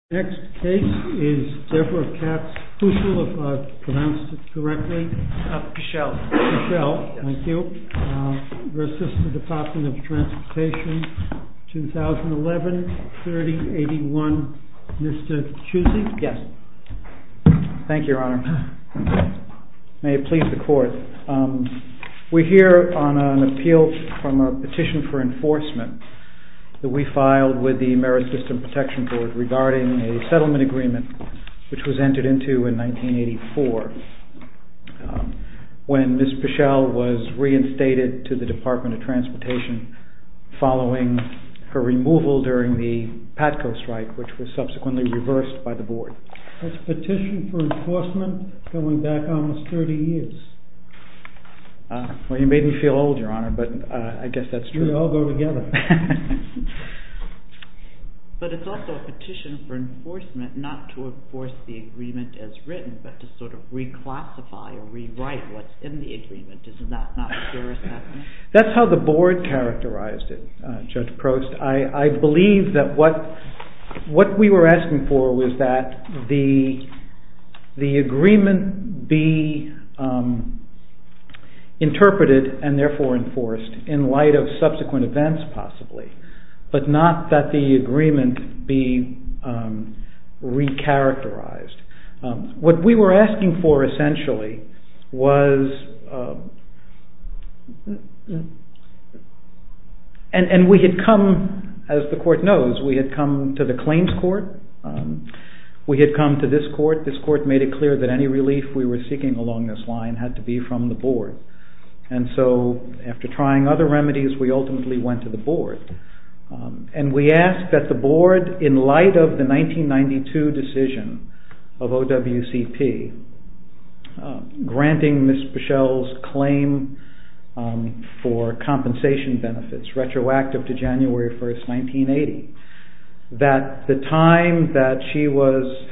2011, 3081 N.W. H.C. May it please the Court, we are here on an appeal from a petition for enforcement that we filed with the Ameri-System Protection Board regarding the 1980 settlement agreement which was entered into in 1984 when Ms. Pueschel was reinstated to the Department of Transportation following her removal during the Patco strike which was subsequently reversed by the Board. That's a petition for enforcement going back almost 30 years. Well you made me feel old, Your Honor, but I guess that's true. We all go together. But it's also a petition for enforcement not to enforce the agreement as written but to sort of reclassify or rewrite what's in the agreement. Isn't that not pure assessment? That's how the Board characterized it, Judge Prost. I believe that what we were asking for was that the agreement be interpreted and therefore enforced in light of subsequent events possibly but not that the agreement be re-characterized. What we were asking for essentially was, and we had come, as the Court knows, we had come to the claims court, we had come to this court, this court made it clear that any relief we were seeking along this line had to be from the Board. And so after trying other remedies we ultimately went to the Board and we asked that the Board, in light of the 1992 decision of OWCP granting Ms. Pueschel's claim for compensation benefits retroactive to January 1st, 1980, that the time that she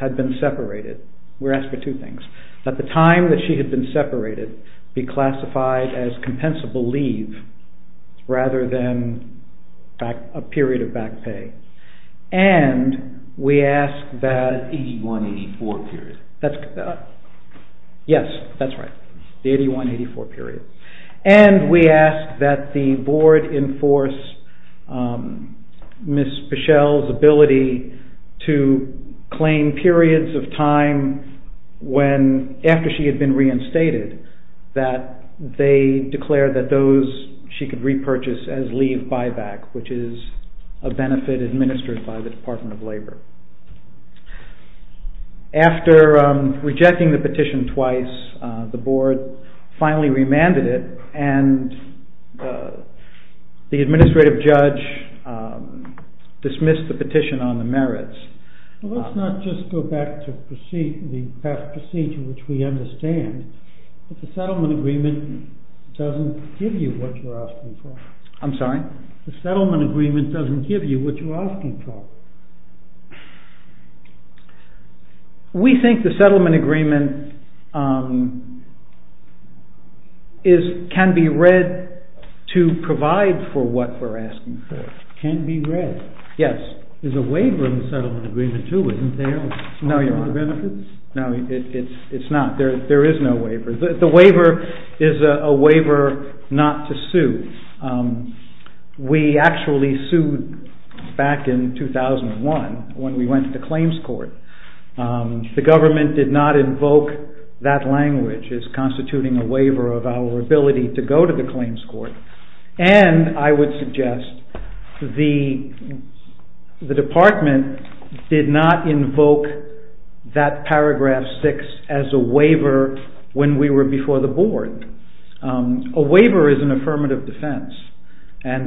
had been separated, we were asked for two things, that the time that she had been separated be classified as compensable leave rather than a period of back pay and we asked that… The 81-84 period. After she had been reinstated that they declared that those she could repurchase as leave buyback which is a benefit administered by the Department of Labor. After rejecting the petition twice the Board finally remanded it and the administrative judge dismissed the petition on the merits. Let's not just go back to the past procedure which we understand that the settlement agreement doesn't give you what you're asking for. I'm sorry? The settlement agreement doesn't give you what you're asking for. We think the settlement agreement can be read to provide for what we're asking for. Can be read? Yes. There's a waiver in the settlement agreement too, isn't there? No, Your Honor. Benefits? No, there is no waiver. The waiver is a waiver not to sue. We actually sued back in 2001 when we went to the claims court. The government did not invoke that language as constituting a waiver of our ability to go to the claims court. I would suggest the department did not invoke that paragraph 6 as a waiver when we were before the Board. A waiver is an affirmative defense. Didn't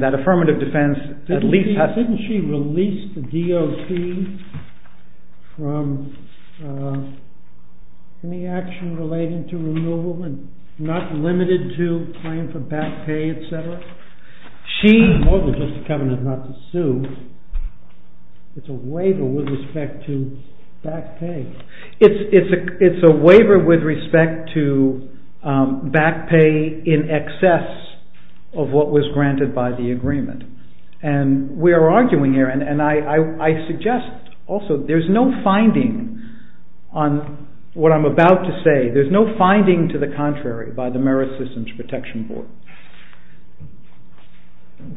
she release the DOT from any action relating to removal and not limited to claim for back pay, etc.? More than just a covenant not to sue, it's a waiver with respect to back pay. Back pay in excess of what was granted by the agreement. And we're arguing here, and I suggest also there's no finding on what I'm about to say. There's no finding to the contrary by the Merit Systems Protection Board.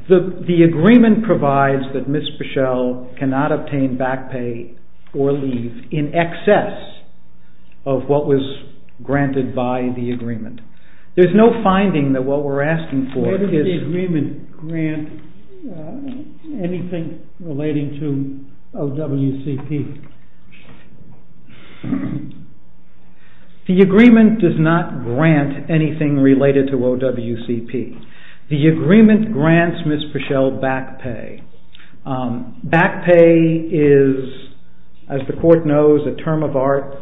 The agreement provides that Ms. Bushell cannot obtain back pay or leave in excess of what was granted by the agreement. There's no finding that what we're asking for is... Where did the agreement grant anything relating to OWCP? The agreement does not grant anything related to OWCP. The agreement grants Ms. Bushell back pay. Back pay is, as the court knows, a term of art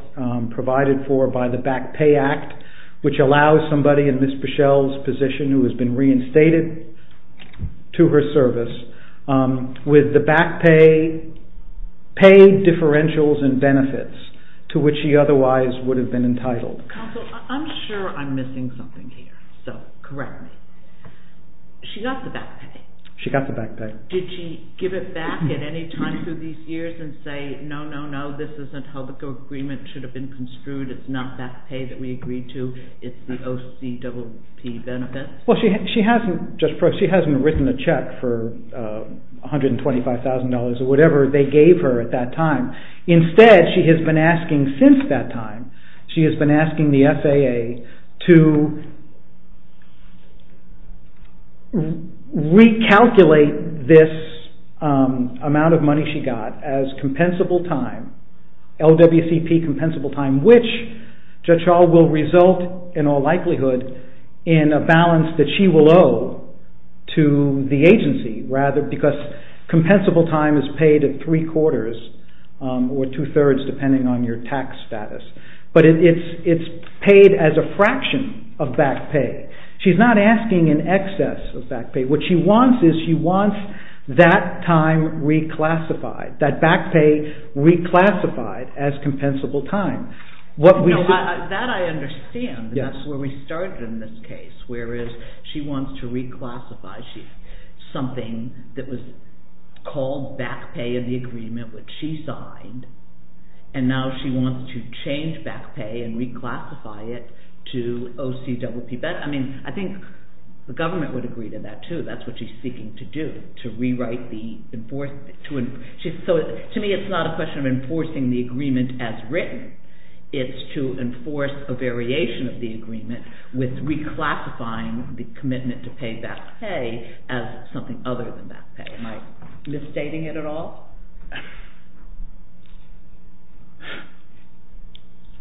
provided for by the Back Pay Act, which allows somebody in Ms. Bushell's position who has been reinstated to her service, with the back pay, pay differentials and benefits to which she otherwise would have been entitled. Counsel, I'm sure I'm missing something here, so correct me. She got the back pay. She got the back pay. Did she give it back at any time through these years and say, no, no, no, this isn't how the agreement should have been construed, it's not back pay that we agreed to, it's the OWCP benefits? She hasn't written a check for $125,000 or whatever they gave her at that time. Instead, she has been asking since that time, she has been asking the FAA to recalculate this amount of money she got as compensable time, OWCP compensable time, which Judge Schall will result in all likelihood in a balance that she will owe to the agency, because compensable time is paid at three quarters or two thirds depending on your tax status. But it's paid as a fraction of back pay. She's not asking in excess of back pay. What she wants is she wants that time reclassified, that back pay reclassified as compensable time. That I understand. That's where we started in this case, whereas she wants to reclassify something that was called back pay in the agreement which she signed, and now she wants to change back pay and reclassify it to OCWP. I think the government would agree to that too. That's what she's seeking to do, to rewrite the enforcement. To me it's not a question of enforcing the agreement as written. It's to enforce a variation of the agreement with reclassifying the commitment to pay back pay as something other than back pay. Am I misstating it at all?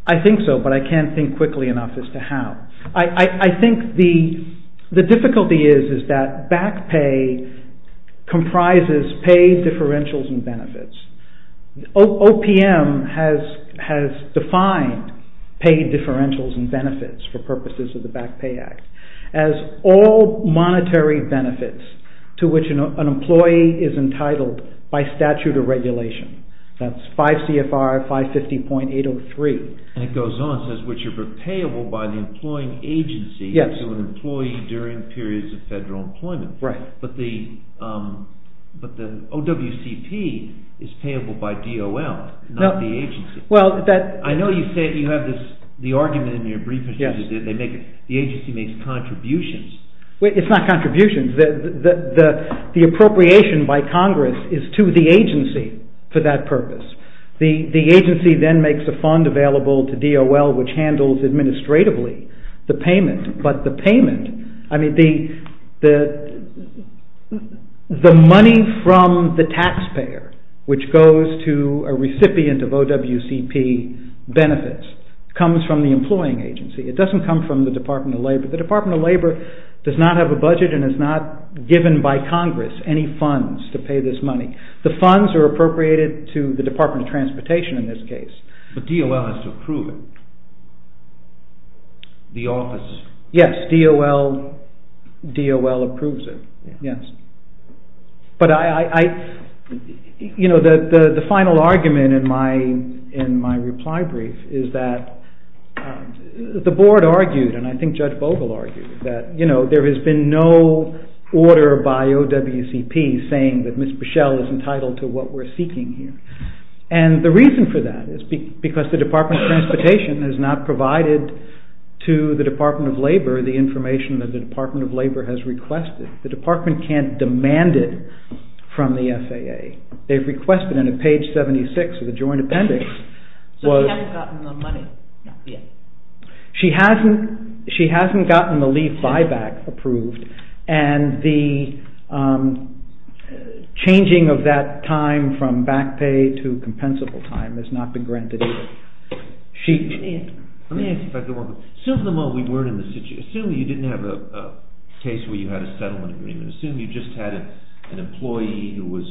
I think so, but I can't think quickly enough as to how. I think the difficulty is that back pay comprises paid differentials and benefits. OPM has defined paid differentials and benefits for purposes of the Back Pay Act as all monetary benefits to which an employee is entitled by statute or regulation. That's 5 CFR 550.803. It goes on and says which are payable by the employing agency to an employee during periods of federal employment. But the OWCP is payable by DOL, not the agency. I know you have the argument in your brief that the agency makes contributions. It's not contributions. The appropriation by Congress is to the agency for that purpose. The agency then makes a fund available to DOL which handles administratively the payment. But the payment, I mean the money from the taxpayer which goes to a recipient of OWCP benefits comes from the employing agency. It doesn't come from the Department of Labor. The Department of Labor does not have a budget and is not given by Congress any funds to pay this money. The funds are appropriated to the Department of Transportation in this case. But DOL has to approve it, the office. Yes, DOL approves it, yes. But the final argument in my reply brief is that the board argued and I think Judge Vogel argued that there has been no order by OWCP saying that Ms. Bushell is entitled to what we're seeking here. And the reason for that is because the Department of Transportation has not provided to the Department of Labor the information that the Department of Labor has requested. The department can't demand it from the FAA. They've requested it on page 76 of the joint appendix. So she hasn't gotten the money yet? She hasn't gotten the leave buyback approved and the changing of that time from back pay to compensable time has not been granted either. Let me ask you a question. Assume you didn't have a case where you had a settlement agreement. Assume you just had an employee who was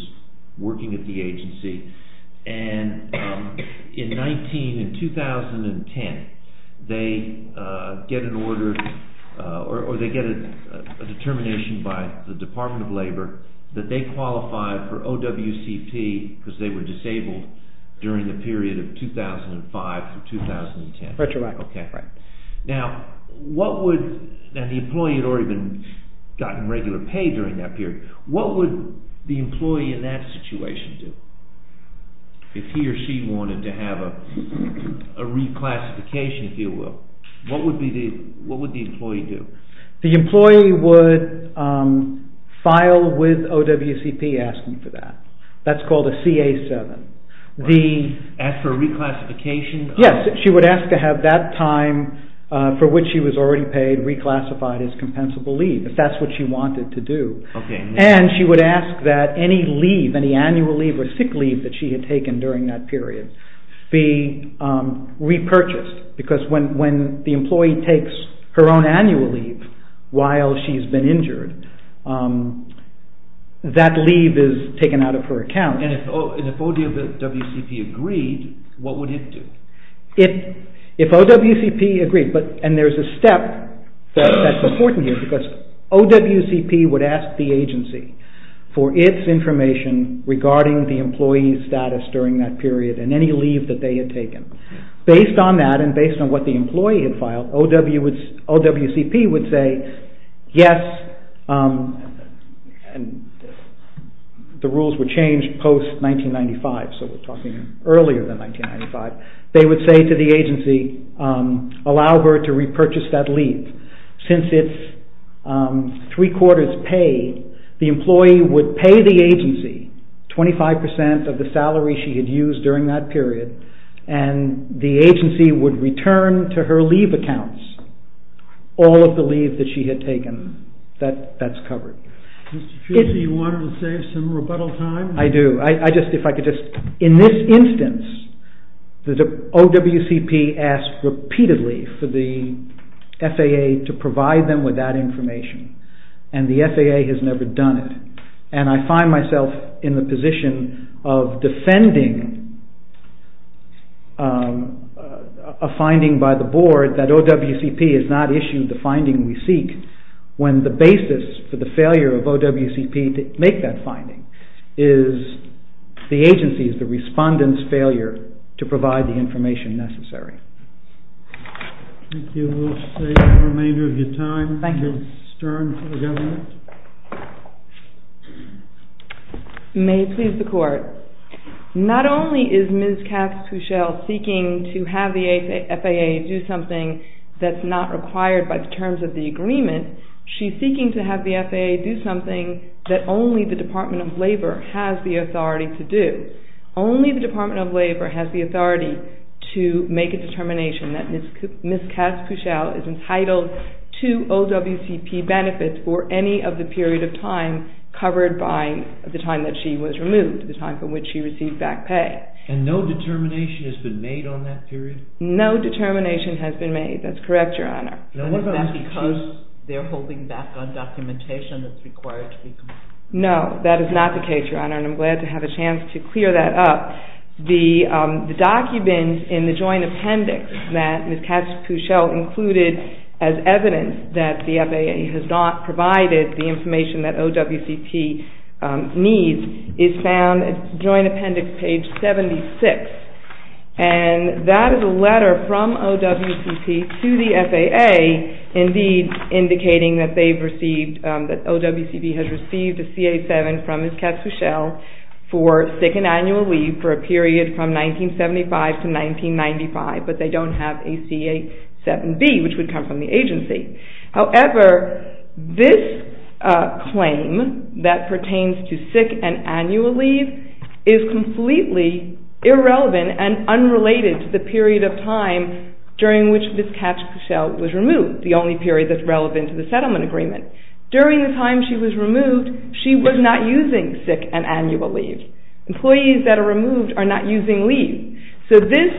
working at the agency and in 2010 they get an order or they get a determination by the Department of Labor that they qualify for OWCP because they were disabled during the period of 2005 to 2010. Retroactively. Now what would, and the employee had already gotten regular pay during that period, what would the employee in that situation do? If he or she wanted to have a reclassification if you will. What would the employee do? The employee would file with OWCP asking for that. That's called a CA-7. Ask for a reclassification? Yes, she would ask to have that time for which she was already paid reclassified as compensable leave if that's what she wanted to do. And she would ask that any leave, any annual leave or sick leave that she had taken during that period be repurchased because when the employee takes her own annual leave while she's been injured that leave is taken out of her account. And if OWCP agreed, what would it do? If OWCP agreed, and there's a step that's important here OWCP would ask the agency for its information regarding the employee's status during that period and any leave that they had taken. Based on that and based on what the employee had filed, OWCP would say yes, the rules were changed post 1995, so we're talking earlier than 1995. They would say to the agency, allow her to repurchase that leave since it's three quarters paid. The employee would pay the agency 25% of the salary she had used during that period and the agency would return to her leave accounts all of the leave that she had taken. That's covered. Do you want to save some rebuttal time? I do. In this instance, OWCP asked repeatedly for the FAA to provide them with that information and the FAA has never done it. And I find myself in the position of defending a finding by the board that OWCP has not issued the finding we seek when the basis for the failure of OWCP to make that finding is the agency's, the respondent's, failure to provide the information necessary. Thank you. We'll save the remainder of your time. Thank you. Ms. Stern for the government. May it please the court. Not only is Ms. Katz-Puchel seeking to have the FAA do something that's not required by the terms of the agreement, she's seeking to have the FAA do something that only the Department of Labor has the authority to do. Only the Department of Labor has the authority to make a determination that Ms. Katz-Puchel is entitled to OWCP benefits for any of the period of time covered by the time that she was removed, the time from which she received back pay. And no determination has been made on that period? No determination has been made. That's correct, Your Honor. And is that because they're holding back on documentation that's required to be completed? No, that is not the case, Your Honor, and I'm glad to have a chance to clear that up. The document in the joint appendix that Ms. Katz-Puchel included as evidence that the FAA has not provided the information that OWCP needs is found at joint appendix page 76, and that is a letter from OWCP to the FAA, indeed indicating that OWCP has received a CA-7 from Ms. Katz-Puchel for sick and annual leave for a period from 1975 to 1995, but they don't have a CA-7B, which would come from the agency. However, this claim that pertains to sick and annual leave is completely irrelevant and unrelated to the period of time during which Ms. Katz-Puchel was removed, the only period that's relevant to the settlement agreement. During the time she was removed, she was not using sick and annual leave. Employees that are removed are not using leave. So this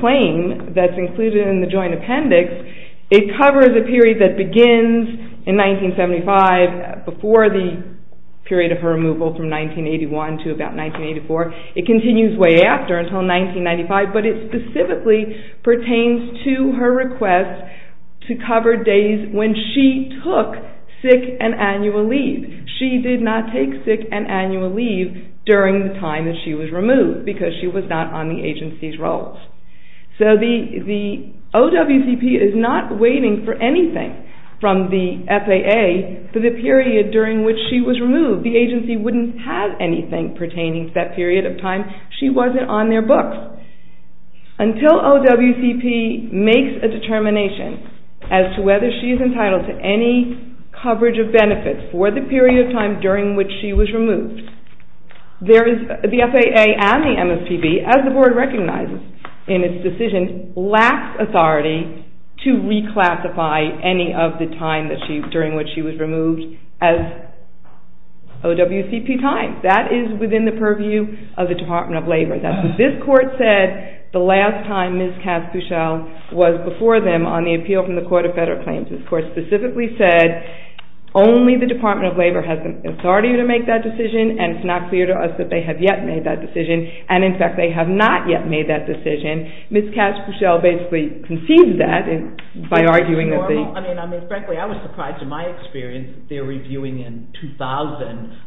claim that's included in the joint appendix, it covers a period that begins in 1975, before the period of her removal from 1981 to about 1984. It continues way after until 1995, but it specifically pertains to her request to cover days when she took sick and annual leave. She did not take sick and annual leave during the time that she was removed, because she was not on the agency's rolls. So the OWCP is not waiting for anything from the FAA for the period during which she was removed. The agency wouldn't have anything pertaining to that period of time. She wasn't on their books. Until OWCP makes a determination as to whether she is entitled to any coverage of benefits for the period of time during which she was removed, the FAA and the MSPB, as the Board recognizes in its decision, lacks authority to reclassify any of the time during which she was removed as OWCP time. That is within the purview of the Department of Labor. This Court said the last time Ms. Casse-Couchelle was before them on the appeal from the Court of Federal Claims, this Court specifically said only the Department of Labor has the authority to make that decision, and it's not clear to us that they have yet made that decision. And, in fact, they have not yet made that decision. Ms. Casse-Couchelle basically conceded that by arguing that the… I mean, frankly, I was surprised in my experience that they're reviewing in 2000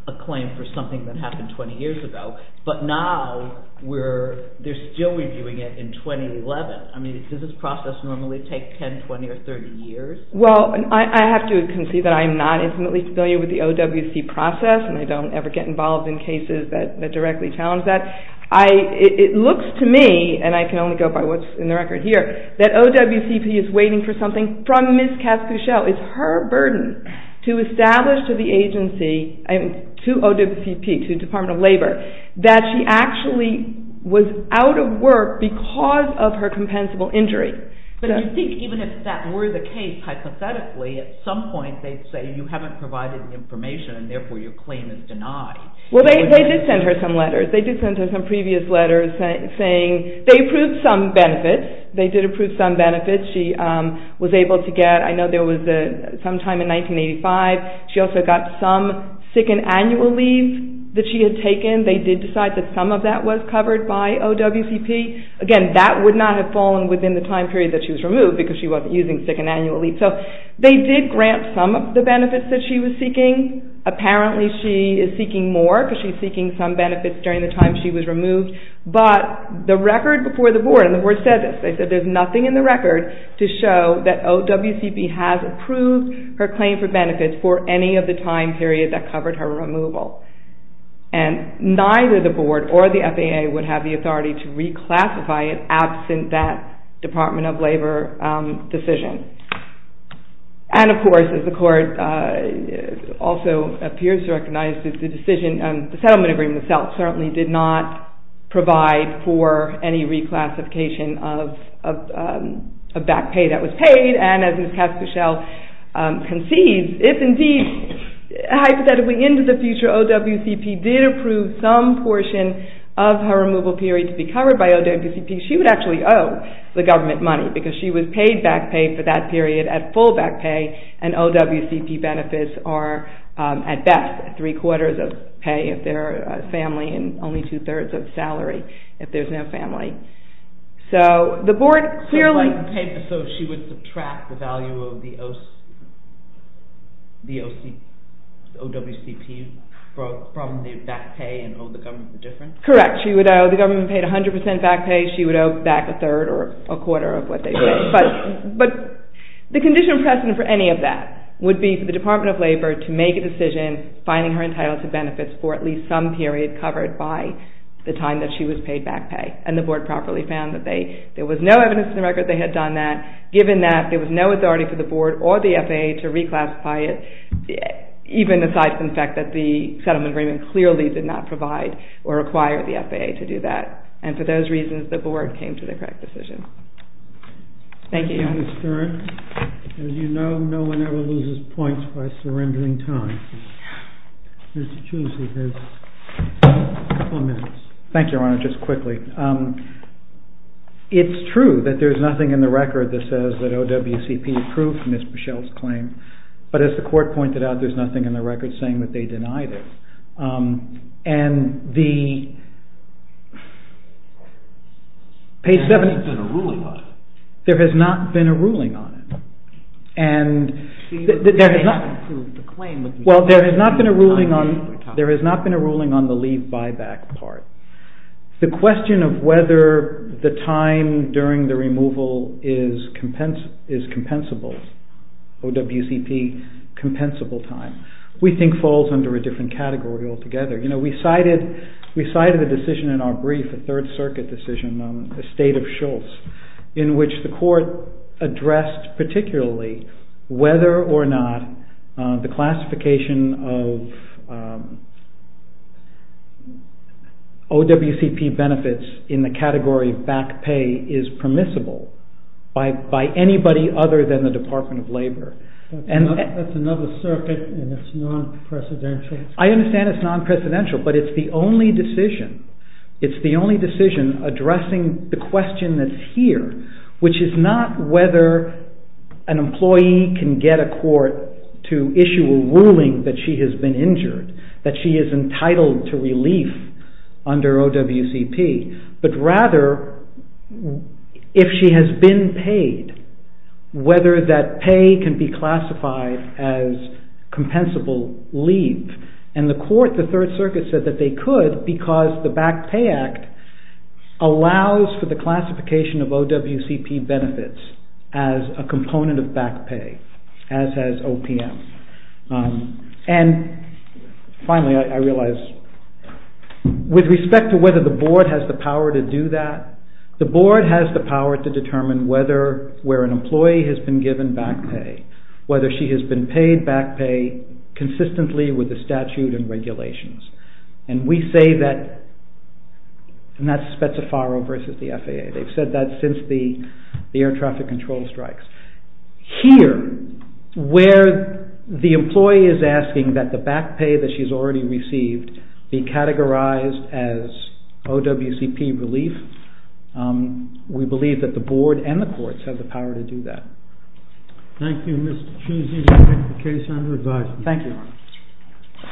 a claim for something that happened 20 years ago, but now they're still reviewing it in 2011. I mean, does this process normally take 10, 20, or 30 years? Well, I have to concede that I am not intimately familiar with the OWCP process, and I don't ever get involved in cases that directly challenge that. It looks to me, and I can only go by what's in the record here, that OWCP is waiting for something from Ms. Casse-Couchelle. It's her burden to establish to the agency, to OWCP, to Department of Labor, that she actually was out of work because of her compensable injury. But I think even if that were the case, hypothetically, at some point they'd say you haven't provided information, and therefore your claim is denied. Well, they did send her some letters. They did send her some previous letters saying they approved some benefits. They did approve some benefits. She was able to get… I know there was some time in 1985, she also got some second annual leave that she had taken. They did decide that some of that was covered by OWCP. Again, that would not have fallen within the time period that she was removed because she wasn't using second annual leave. So they did grant some of the benefits that she was seeking. Apparently she is seeking more because she's seeking some benefits during the time she was removed. But the record before the board, and the board said this, they said there's nothing in the record to show that OWCP has approved her claim for benefits for any of the time period that covered her removal. And neither the board or the FAA would have the authority to reclassify it absent that Department of Labor decision. And of course, as the court also appears to recognize, the settlement agreement itself certainly did not provide for any reclassification of back pay that was paid, and as Ms. Casker-Shell concedes, if indeed, hypothetically into the future, OWCP did approve some portion of her removal period to be covered by OWCP, she would actually owe the government money because she was paid back pay for that period at full back pay, and OWCP benefits are at best three-quarters of pay if they're a family and only two-thirds of salary if there's no family. So the board clearly... The OWCP from the back pay and owe the government the difference? Correct. She would owe the government paid 100% back pay. She would owe back a third or a quarter of what they paid. But the conditional precedent for any of that would be for the Department of Labor to make a decision finding her entitled to benefits for at least some period covered by the time that she was paid back pay, and the board properly found that there was no evidence in the record they had done that, given that there was no authority for the board or the FAA to reclassify it, even aside from the fact that the settlement agreement clearly did not provide or require the FAA to do that. And for those reasons, the board came to the correct decision. Thank you. Thank you, Ms. Stern. As you know, no one ever loses points by surrendering time. Mr. Choosey has a couple of minutes. Thank you, Your Honor. Just quickly. It's true that there's nothing in the record that says that OWCP approved Ms. Bushell's claim. But as the court pointed out, there's nothing in the record saying that they denied it. And the page 7... There has not been a ruling on it. There has not been a ruling on it. And there has not been a ruling on the leave buyback part. The question of whether the time during the removal is compensable, OWCP compensable time, we think falls under a different category altogether. You know, we cited a decision in our brief, a Third Circuit decision on the state of Schultz, in which the court addressed particularly whether or not the classification of OWCP benefits in the category of back pay is permissible by anybody other than the Department of Labor. That's another circuit, and it's non-precedential. I understand it's non-precedential, but it's the only decision. It's the only decision addressing the question that's here, which is not whether an employee can get a court to issue a ruling that she has been injured, that she is entitled to relief under OWCP, but rather if she has been paid, whether that pay can be classified as compensable leave. And the court, the Third Circuit, said that they could because the Back Pay Act allows for the classification of OWCP benefits as a component of back pay, as has OPM. And finally, I realize, with respect to whether the board has the power to do that, the board has the power to determine whether where an employee has been given back pay, whether she has been paid back pay consistently with the statute and regulations. And we say that, and that's Spetsofaro versus the FAA. They've said that since the air traffic control strikes. Here, where the employee is asking that the back pay that she's already received be categorized as OWCP relief, we believe that the board and the courts have the power to do that. Thank you, Mr. Choosey. We'll take the case under review. Thank you, Your Honor.